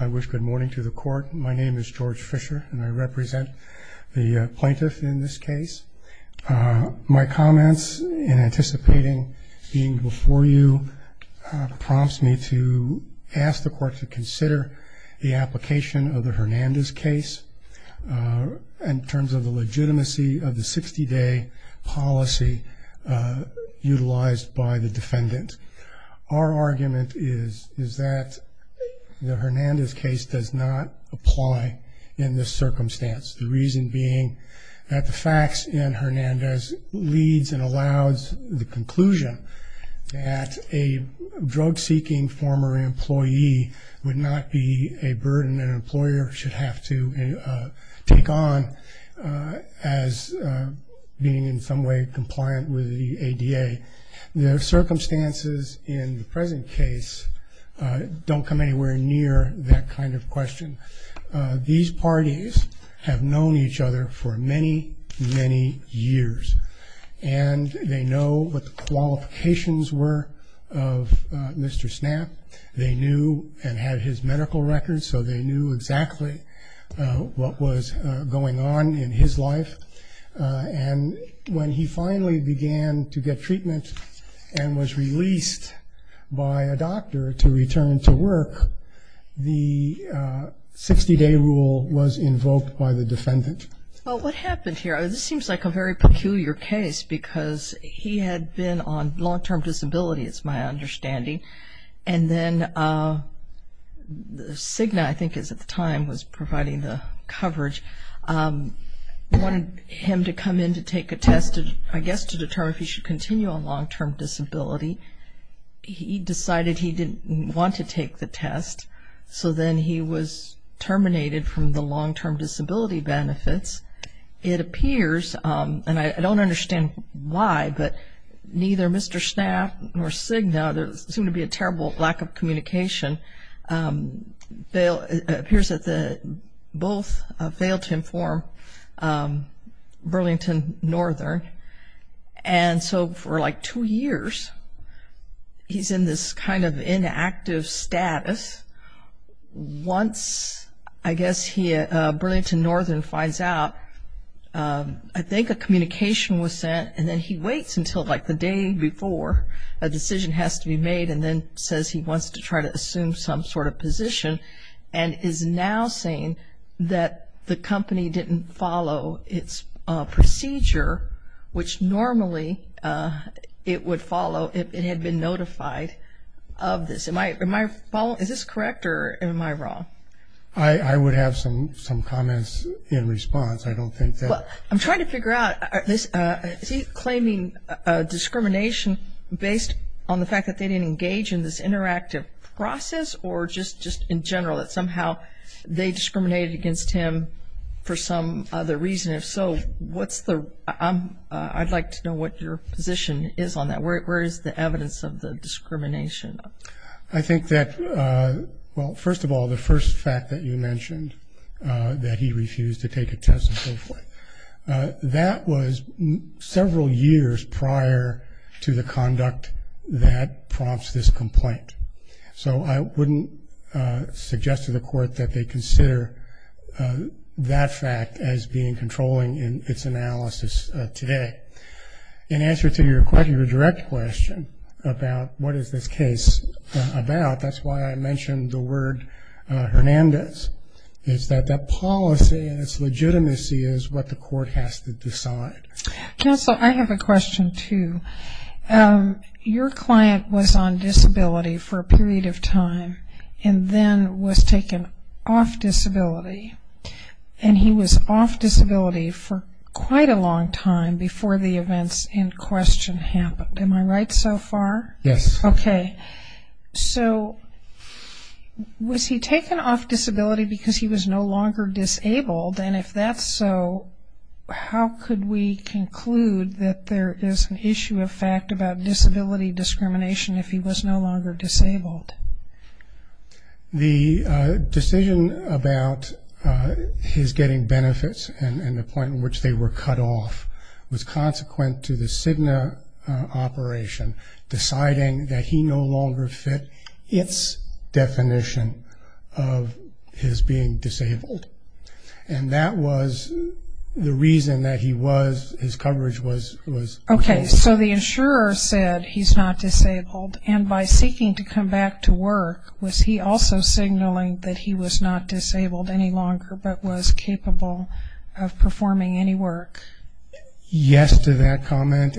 I wish good morning to the court my name is George Fisher and I represent the plaintiff in this case my comments in anticipating being before you prompts me to ask the court to consider the application of the Hernandez case in terms of the legitimacy of the 60-day policy utilized by the defendant our argument is is that the Hernandez case does not apply in this circumstance the reason being that the facts in Hernandez leads and allows the conclusion that a drug-seeking former employee would not be a burden an employer should have to take on as being in some way compliant with the ADA the circumstances in the present case don't come anywhere near that kind of question these parties have known each other for many many years and they know what the qualifications were of Mr. Snapp they knew and had his medical records so they knew exactly what was going on in his life and when he finally began to get treatment and was released by a doctor to return to work the 60-day rule was invoked by the defendant. What happened here seems like a very peculiar case because he had been on long-term disability it's my understanding and then Cigna I think is at the time was providing the coverage wanted him to come in to take a test I guess to determine if he should continue on long-term disability he decided he didn't want to take the test so then he was terminated from the long-term disability benefits it appears and I don't understand why but neither Mr. Snapp nor Cigna there seemed to be a terrible lack of communication it appears that both failed to inform Burlington Northern and so for like two years he's in this kind of inactive status once I guess he Burlington Northern finds out I think a communication was sent and then he waits until like the day before a decision has to be made and then says he wants to try to assume some sort of position and is now saying that the company didn't follow its procedure which normally it would follow if it had been notified of this. Is this correct or am I wrong? I would have some some comments in response I don't think that. I'm trying to figure out is he claiming discrimination based on the fact that they didn't engage in this interactive process or just just in general that somehow they discriminated against him for some other reason if so what's the I'd like to know what your position is on that where is the evidence of the discrimination? I think that well first of all the first fact that you mentioned that he refused to take a test and so forth that was several years prior to the conduct that prompts this complaint so I wouldn't suggest to the court that they consider that fact as being controlling in its analysis today. In answer to your question your direct question about what is this case about that's why I mentioned the word Hernandez is that policy and its legitimacy is what the court has to decide. Counselor I have a question too. Your client was on disability for a period of time and then was taken off disability and he was off disability for quite a long time before the events in question happened. Am I right so far? Yes. Okay so was he taken off disability because he was no longer disabled and if that's so how could we conclude that there is an issue of fact about disability discrimination if he was no longer disabled? The decision about his getting benefits and the point in which they were cut off was consequent to the Cigna operation deciding that he no longer fit its definition of his being disabled and that was the reason that he was his coverage was okay. So the insurer said he's not disabled and by seeking to come back to work was he also signaling that he was not disabled any longer but was capable of performing any work? Yes to that comment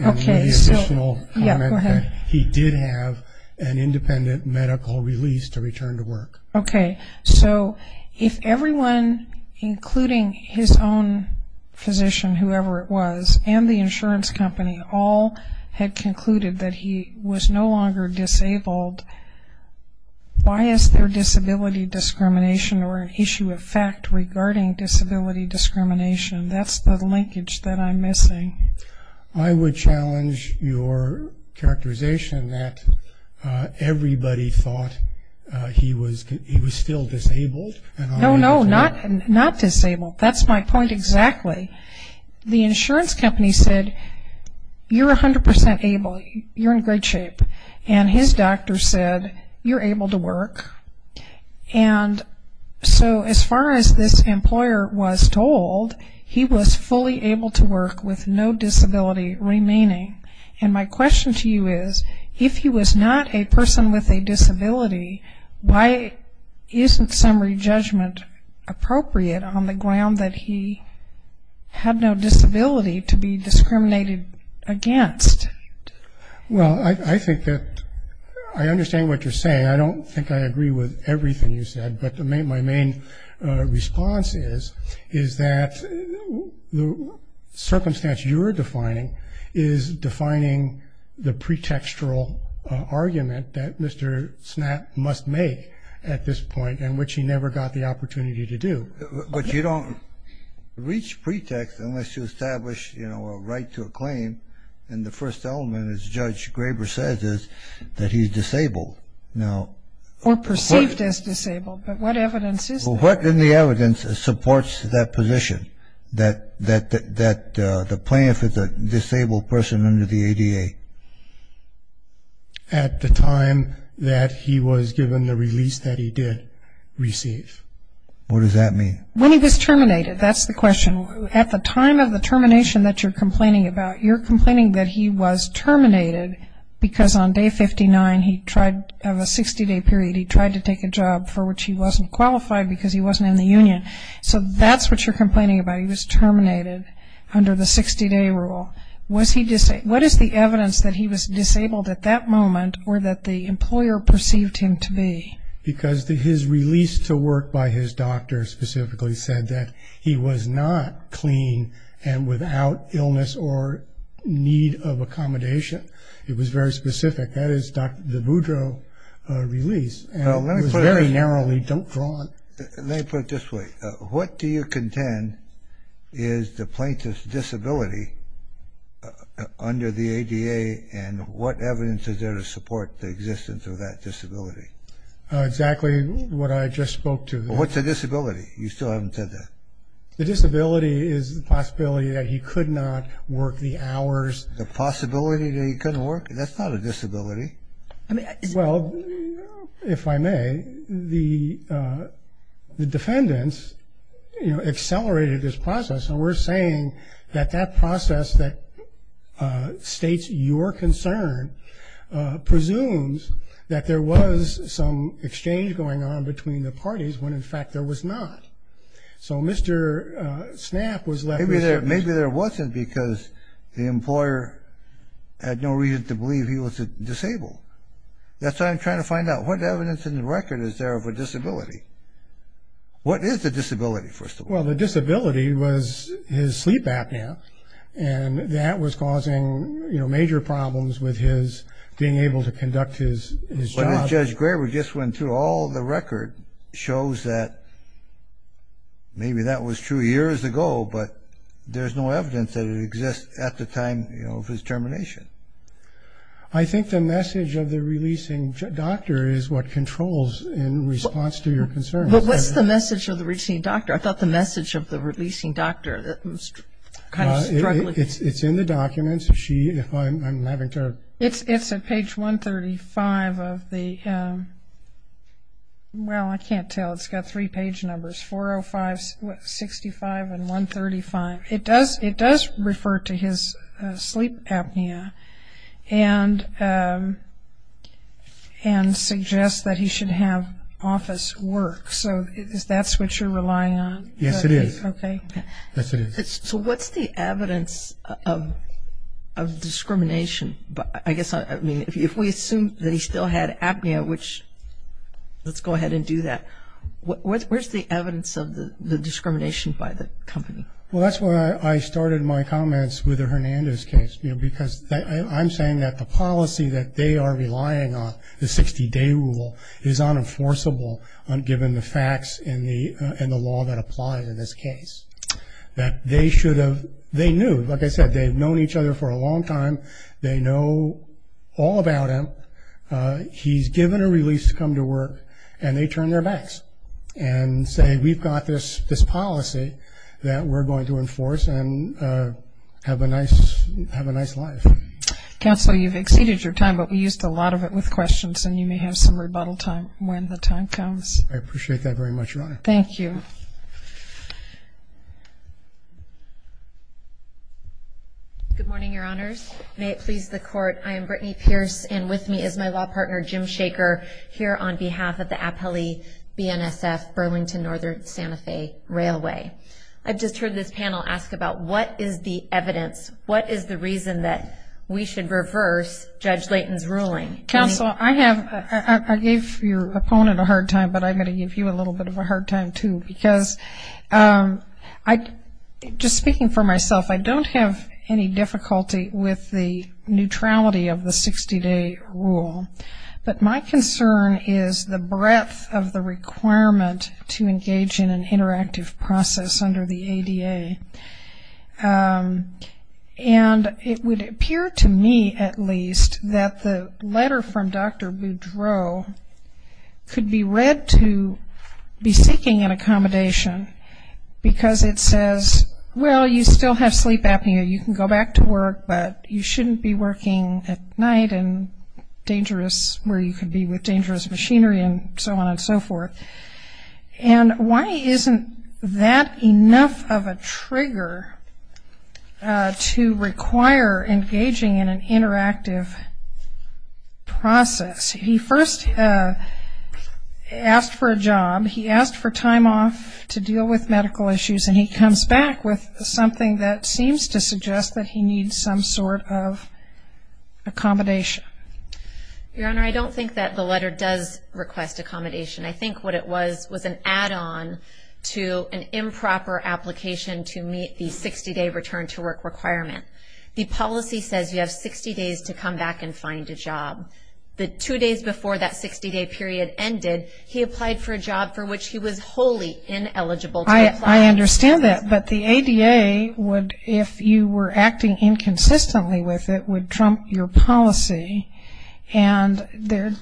he did have an independent medical release to return to work. Okay so if everyone including his own physician whoever it was and the insurance company all had concluded that he was no longer disabled why is there disability discrimination or an issue of fact regarding disability discrimination that's the linkage that I'm missing. I would challenge your characterization that everybody thought he was he was still disabled. No no not not disabled that's my point exactly the insurance company said you're a hundred percent able you're in great shape and his doctor said you're able to work and so as far as this employer was told he was fully able to work with no disability remaining and my question to you is if he was not a person with a disability why isn't summary judgment appropriate on the ground that he had no disability to be discriminated against? Well I think that I understand what you're saying I don't think I agree with everything you said but the main my main response is is that the circumstance you're defining is defining the pretextural argument that Mr. Snap must make at this point and which he never got the opportunity to do. But you don't reach pretext unless you establish you know a right to a claim and the first element is Judge Graber says is that he's disabled now. Or perceived as disabled but what evidence is there? What in the evidence supports that position that that that the plaintiff is a disabled person under the ADA? At the time that he was given the release that he did receive. What does that mean? When he was terminated that's the question at the time of the termination that you're complaining about you're complaining that he was terminated because on day 59 he tried of a 60-day period he tried to take a job for which he wasn't qualified because he wasn't in the Union. So that's what you're complaining about he was terminated under the 60-day rule. Was he disabled? What is the evidence that he was disabled at that moment or that the employer perceived him to be? Because his release to work by his doctor specifically said that he was not clean and without illness or need of accommodation. It was very specific. That is Dr. DeBoudreau release and it was very narrowly drawn. Let me put it this way. What do you contend is the plaintiff's disability under the ADA and what evidence is there to support the existence of that disability? Exactly what I just spoke to. What's a disability? You still haven't said that. The disability is the possibility that he could not work the hours. The possibility that he couldn't work? That's not a disability. Well if I may the defendants you know accelerated this process and we're saying that that process that states your concern presumes that there was some exchange going on between the parties when in fact there was not. So Mr. Snapp was left... Maybe there wasn't because the employer had no reason to believe he was disabled. That's what I'm trying to find out. What evidence in the record is there of a disability? What is the disability first of all? Well the disability was his sleep apnea and that was causing you know major problems with his being able to conduct his job. Judge Graber just went through all the record shows that maybe that was true years ago but there's no evidence that it exists at the time you know of his termination. I think the message of the releasing doctor is what controls in response to your concern. But what's the message of the releasing doctor? I thought the message of the releasing doctor that was kind of struggling. It's in the documents. It's at page 135 of the well I can't tell it's got three page numbers 405, 65 and 135. It does it does refer to his sleep apnea and suggests that he should have office work so that's what you're relying on? Yes it is. So what's the evidence of discrimination but I guess I mean if we assume that he still had apnea which let's go ahead and do that what's where's the evidence of the discrimination by the company? Well that's where I started my comments with a Hernandez case you know because I'm saying that the policy that they are relying on the 60-day rule is unenforceable on given the facts in the law that applies in this case that they should have they knew like I said they've known each other for a long time they know all about him he's given a release to come to work and they turn their backs and say we've got this this policy that we're going to enforce and have a nice have a nice life. Counselor you've exceeded your time but we used a lot of it with questions and you may have some much right. Thank you. Good morning your honors may it please the court I am Brittany Pierce and with me is my law partner Jim Shaker here on behalf of the Apelli BNSF Burlington Northern Santa Fe Railway. I've just heard this panel ask about what is the evidence what is the reason that we should reverse Judge Layton's ruling? Counsel I have I gave your opponent a hard time but I'm going to give you a little bit of a hard time too because I just speaking for myself I don't have any difficulty with the neutrality of the 60-day rule but my concern is the breadth of the requirement to engage in an interactive process under the ADA and it would appear to me at least that the letter from Dr. Boudreau could be read to be seeking an accommodation because it says well you still have sleep apnea you can go back to work but you shouldn't be working at night and dangerous where you could be with dangerous machinery and so on and so forth and why isn't that enough of a trigger to require engaging in an interactive process? He first asked for a job he asked for time off to deal with medical issues and he comes back with something that seems to suggest that he needs some sort of accommodation. Your Honor I don't think that the letter does request accommodation I think what it was was an add-on to an improper application to meet the 60-day return to work requirement. The policy says you have 60 days to come back and find a job. The two days before that 60-day period ended he applied for a job for which he was wholly ineligible. I understand that but the ADA would if you were acting inconsistently with it would trump your policy and there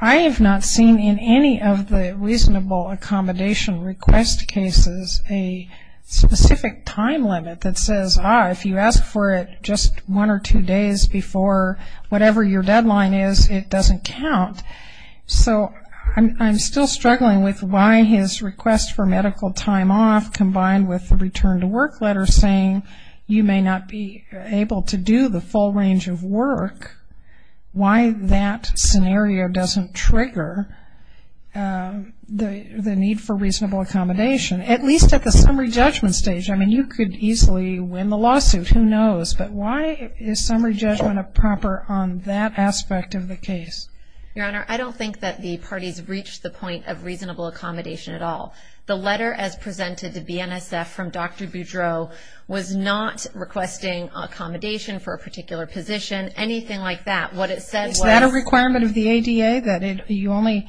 I have not seen in any of the reasonable accommodation request cases a specific time limit that says if you ask for it just one or two days before whatever your deadline is it doesn't count. So I'm still struggling with why his request for medical time off combined with the return to work letter saying you may not be able to do the full range of work, why that scenario doesn't trigger the need for reasonable accommodation at least at the summary judgment stage. I mean you could easily win the lawsuit who knows but why is summary judgment improper on that aspect of the case? Your Honor I don't think that the parties reached the point of reasonable accommodation at all. The letter as presented to BNSF from Dr. Boudreaux was not requesting accommodation for a particular position anything like that. What it said was... Is that a requirement of the ADA that you only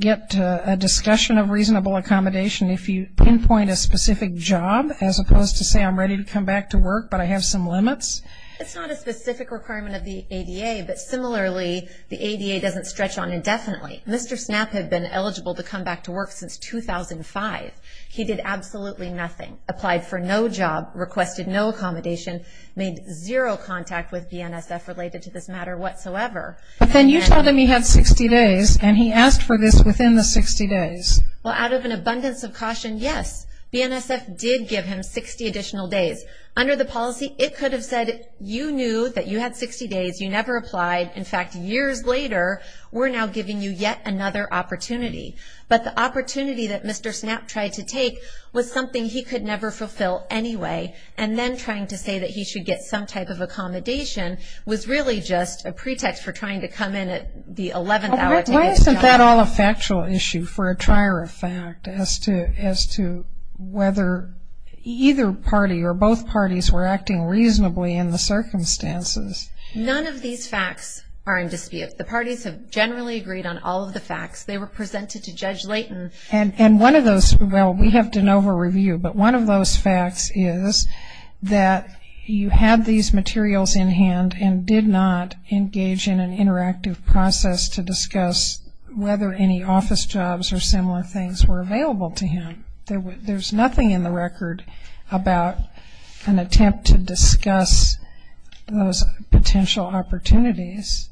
get a discussion of reasonable accommodation if you pinpoint a specific job as opposed to say I'm ready to come back to work but I have some limits? It's not a specific requirement of the ADA but similarly the ADA doesn't stretch on indefinitely. Mr. Snapp had been eligible to come back to work since 2005. He did absolutely nothing, applied for no job, requested no accommodation, made zero contact with BNSF related to this matter whatsoever. But then you told him he had 60 days and he asked for this within the 60 days. Well out of an application did give him 60 additional days. Under the policy it could have said you knew that you had 60 days, you never applied, in fact years later we're now giving you yet another opportunity. But the opportunity that Mr. Snapp tried to take was something he could never fulfill anyway and then trying to say that he should get some type of accommodation was really just a pretext for trying to come in at the 11th hour... Why isn't that all a factual issue for a fact as to whether either party or both parties were acting reasonably in the circumstances? None of these facts are in dispute. The parties have generally agreed on all of the facts. They were presented to Judge Layton... And one of those, well we have to know her review, but one of those facts is that you had these materials in hand and did not engage in an interactive process to things were available to him. There's nothing in the record about an attempt to discuss those potential opportunities.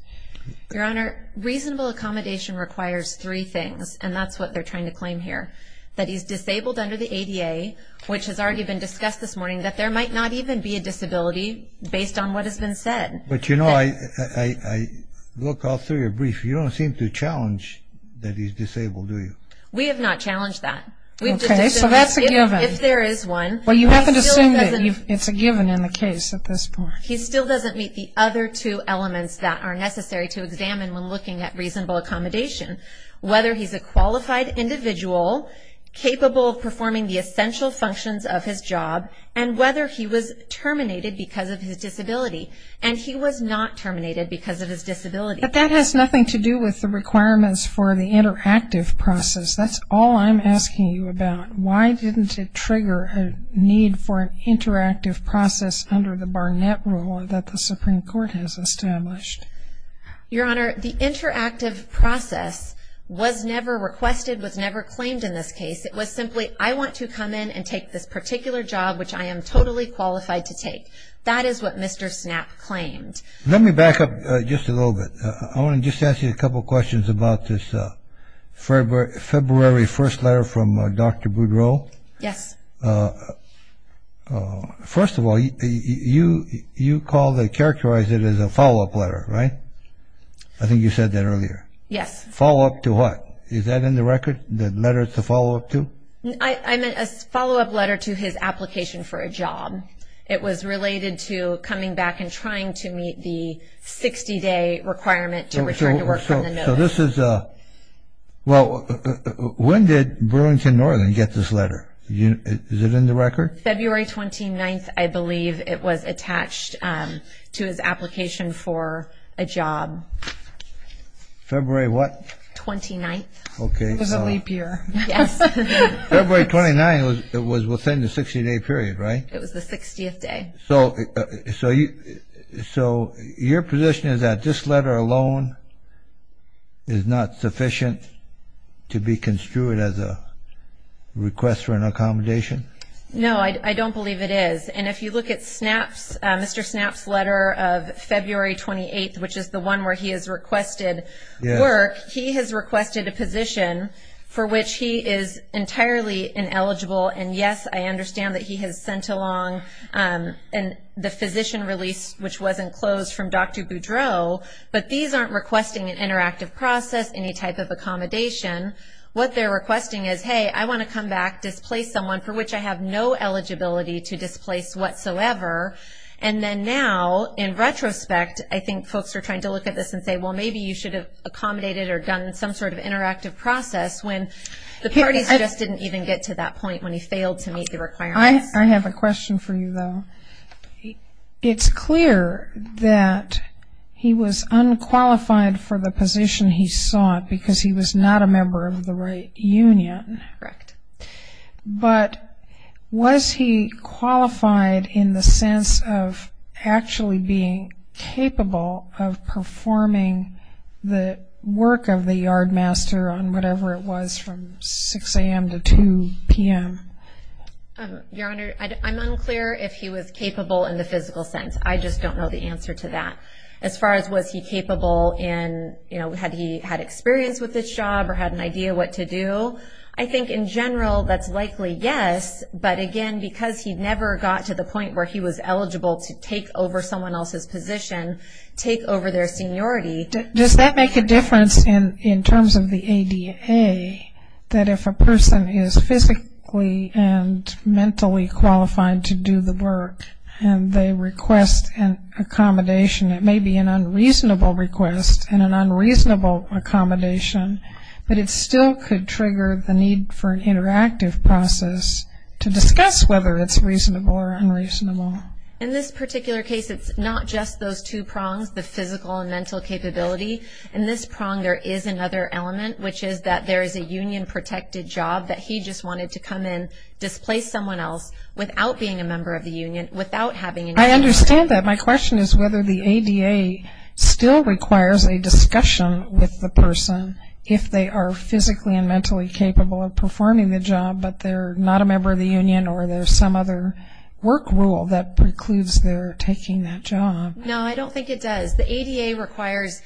Your Honor, reasonable accommodation requires three things and that's what they're trying to claim here. That he's disabled under the ADA, which has already been discussed this morning, that there might not even be a disability based on what has been said. But you know I look all through your brief, you don't seem to challenge that he's disabled, do you? We have not challenged that. Okay, so that's a given. If there is one... Well you haven't assumed that it's a given in the case at this point. He still doesn't meet the other two elements that are necessary to examine when looking at reasonable accommodation. Whether he's a qualified individual, capable of performing the essential functions of his job, and whether he was terminated because of his disability. But that has nothing to do with the requirements for the interactive process. That's all I'm asking you about. Why didn't it trigger a need for an interactive process under the Barnett Rule that the Supreme Court has established? Your Honor, the interactive process was never requested, was never claimed in this case. It was simply, I want to come in and take this particular job which I am totally qualified to take. That is what Mr. Snap claimed. Let me back up just a little bit. I want to just ask you a couple questions about this February 1st letter from Dr. Boudreau. Yes. First of all, you call, characterize it as a follow-up letter, right? I think you said that earlier. Yes. Follow-up to what? Is that in the record? The letter it's a follow-up to? I meant a follow-up letter to his application for a job. It was related to coming back and trying to meet the 60-day requirement to return to work on the notice. So this is a, well, when did Burlington Northern get this letter? Is it in the record? February 29th, I believe it was attached to his application for a job. February what? 29th. Okay. It was a leap year. Yes. February 29th was within the 60-day period, right? It was the So your position is that this letter alone is not sufficient to be construed as a request for an accommodation? No, I don't believe it is. And if you look at Snap's, Mr. Snap's letter of February 28th, which is the one where he has requested work, he has requested a position for which he is entirely ineligible. And yes, I understand that he has sent along the physician release, which wasn't closed from Dr. Boudreau, but these aren't requesting an interactive process, any type of accommodation. What they're requesting is, hey, I want to come back, displace someone for which I have no eligibility to displace whatsoever. And then now, in retrospect, I think folks are trying to look at this and say, well, maybe you should have accommodated or done some sort of interactive process when the parties just didn't even get to that point when he failed to meet the requirements. I have a question for you, though. It's clear that he was unqualified for the position he sought because he was not a member of the right union. Correct. But was he qualified in the sense of actually being capable of what he was from 6 a.m. to 2 p.m.? Your Honor, I'm unclear if he was capable in the physical sense. I just don't know the answer to that. As far as was he capable in, you know, had he had experience with this job or had an idea what to do? I think in general, that's likely yes. But again, because he never got to the point where he was eligible to take over someone else's position, take over their seniority. Does that make a difference in terms of the ADA, that if a person is physically and mentally qualified to do the work and they request an accommodation, it may be an unreasonable request and an unreasonable accommodation, but it still could trigger the need for an interactive process to discuss whether it's reasonable or unreasonable. In this particular case, it's not just those two prongs, the physical and mental capability. In this prong, there is another element, which is that there is a union-protected job that he just wanted to come in, displace someone else without being a member of the union, without having an interview. I understand that. My question is whether the ADA still requires a discussion with the person if they are physically and mentally capable of performing the job, but they're not a member of the union or there's some other work rule that precludes their taking that job. No, I don't think it does. The ADA requires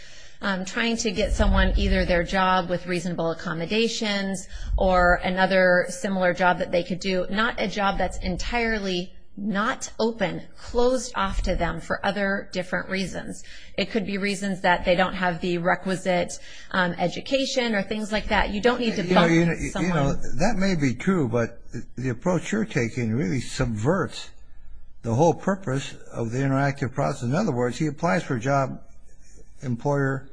trying to get someone either their job with reasonable accommodations or another similar job that they could do, not a job that's entirely not open, closed off to them for other different reasons. It could be reasons that they don't have the requisite education or things like that. You don't need to bump someone. That may be true, but the approach you're taking really subverts the whole purpose of the interactive process. In other words, he applies for a job, employer,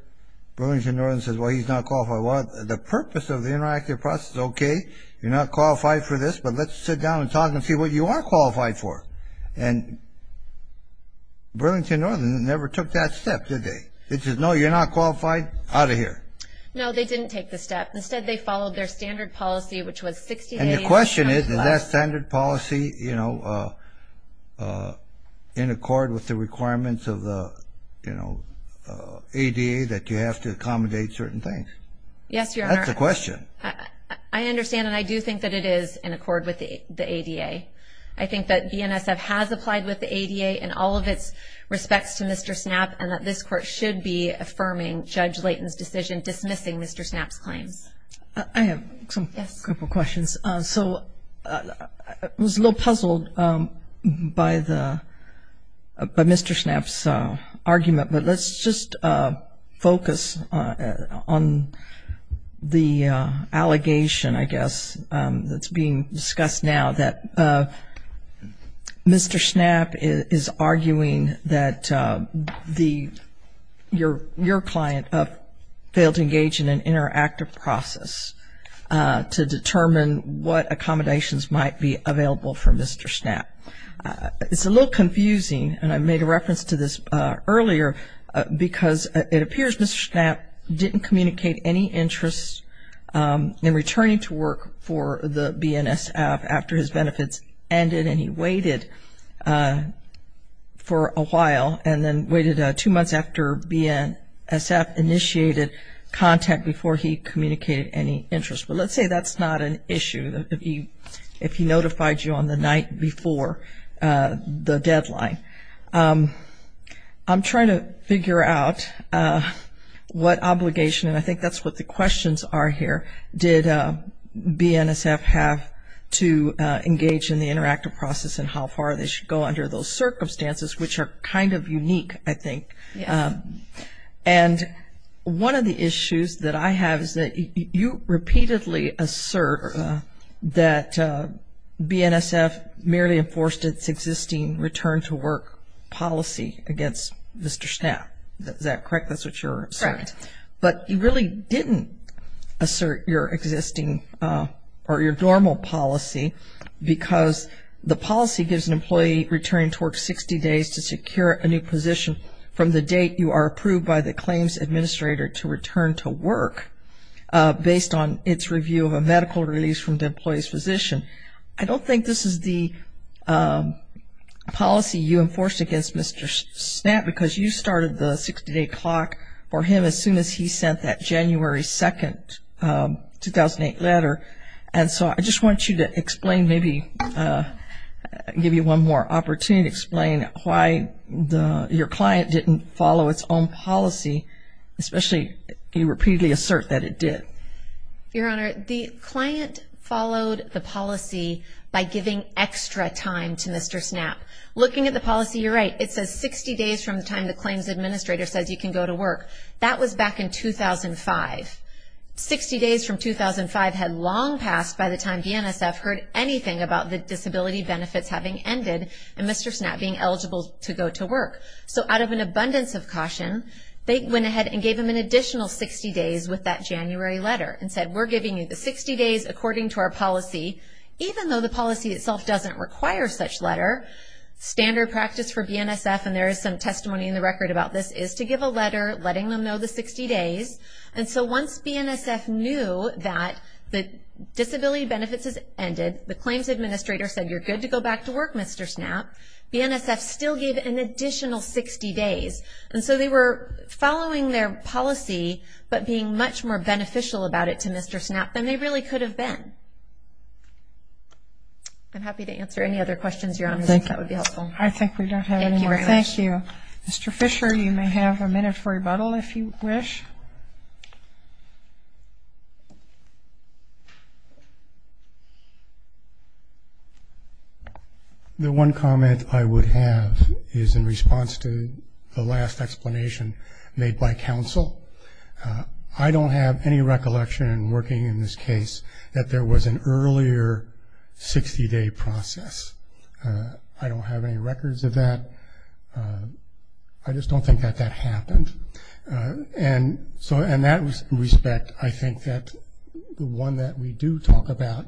Burlington Northern says, well, he's not qualified. Well, the purpose of the interactive process is okay, you're not qualified for this, but let's sit down and talk and see what you are qualified for. And Burlington Northern never took that step, did they? They said, no, you're not qualified, out of here. No, they didn't take the step. Instead, they followed their standard policy, which was 60 days. And the question is, is that standard policy, you know, in accord with the requirements of the, you know, ADA that you have to accommodate certain things? Yes, Your Honor. That's the question. I understand and I do think that it is in accord with the ADA. I think that BNSF has applied with the ADA in all of its respects to Mr. Snapp and that this court should be affirming Judge Layton's missing Mr. Snapp's claims. I have a couple questions. So, I was a little puzzled by Mr. Snapp's argument, but let's just focus on the allegation, I guess, that's being discussed now that Mr. Snapp is arguing that your client failed to engage in an interactive process to determine what accommodations might be available for Mr. Snapp. It's a little confusing and I made a reference to this earlier because it appears Mr. Snapp didn't communicate any interest in returning to work for the BNSF after his benefits ended and he waited for a while and then waited two months after BNSF initiated contact before he communicated any interest. But let's say that's not an issue if he notified you on the night before the deadline. I'm trying to figure out what obligation, and I think that's what the questions are here, did BNSF have to engage in the interactive process and how far they should go under those circumstances, which are kind of unique, I think. And one of the issues that I have is that you repeatedly assert that BNSF merely enforced its existing return-to-work policy against Mr. Snapp. Is that correct? That's what you're saying, but you really didn't assert your existing or your normal policy because the policy gives an employee return to work 60 days to secure a new position from the date you are approved by the claims administrator to return to work based on its review of a medical release from the employee's physician. I don't think this is the policy you enforced against Mr. Snapp because you started the 60-day clock for him as soon as he sent that January 2nd, 2008 letter, and so I just want you to explain, maybe give you one more opportunity to explain why your client didn't follow its own policy, especially you repeatedly assert that it did. Your Honor, the client followed the policy by giving extra time to Mr. Snapp. Looking at the policy, you're right. It says 60 days from the time the claims administrator says you can go to work. That was back in 2005. 60 days from 2005 had long passed by the time BNSF heard anything about the disability benefits having ended and Mr. Snapp being eligible to go to work. So out of an abundance of caution, they went ahead and gave him an additional 60 days with that January letter and said, we're giving you the 60 days according to our policy, even though the policy itself doesn't require such letter. Standard practice for BNSF, and there is some testimony in the record about this, is to give a letter letting them know the 60 days. And so once BNSF knew that the disability benefits had ended, the claims administrator said, you're good to go back to work, Mr. Snapp, BNSF still gave an additional 60 days. And so they were following their policy, but being much more beneficial about it to Mr. Snapp than they really could have been. I'm happy to answer any other questions, Your Honor, if that would be helpful. I think we don't have any more. Thank you. Mr. Fisher, you may have a minute for questions if you wish. The one comment I would have is in response to the last explanation made by counsel. I don't have any recollection working in this case that there was an earlier 60 day process. I don't have any records of that. I just don't think that happened. And so in that respect, I think that the one that we do talk about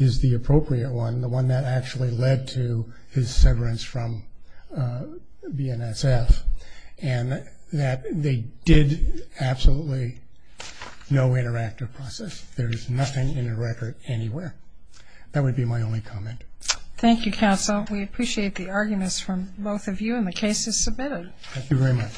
is the appropriate one, the one that actually led to his severance from BNSF, and that they did absolutely no interactive process. There is nothing in the record anywhere. That would be my only comment. Thank you, counsel. We appreciate the arguments from both of you and the cases submitted. Thank you very much.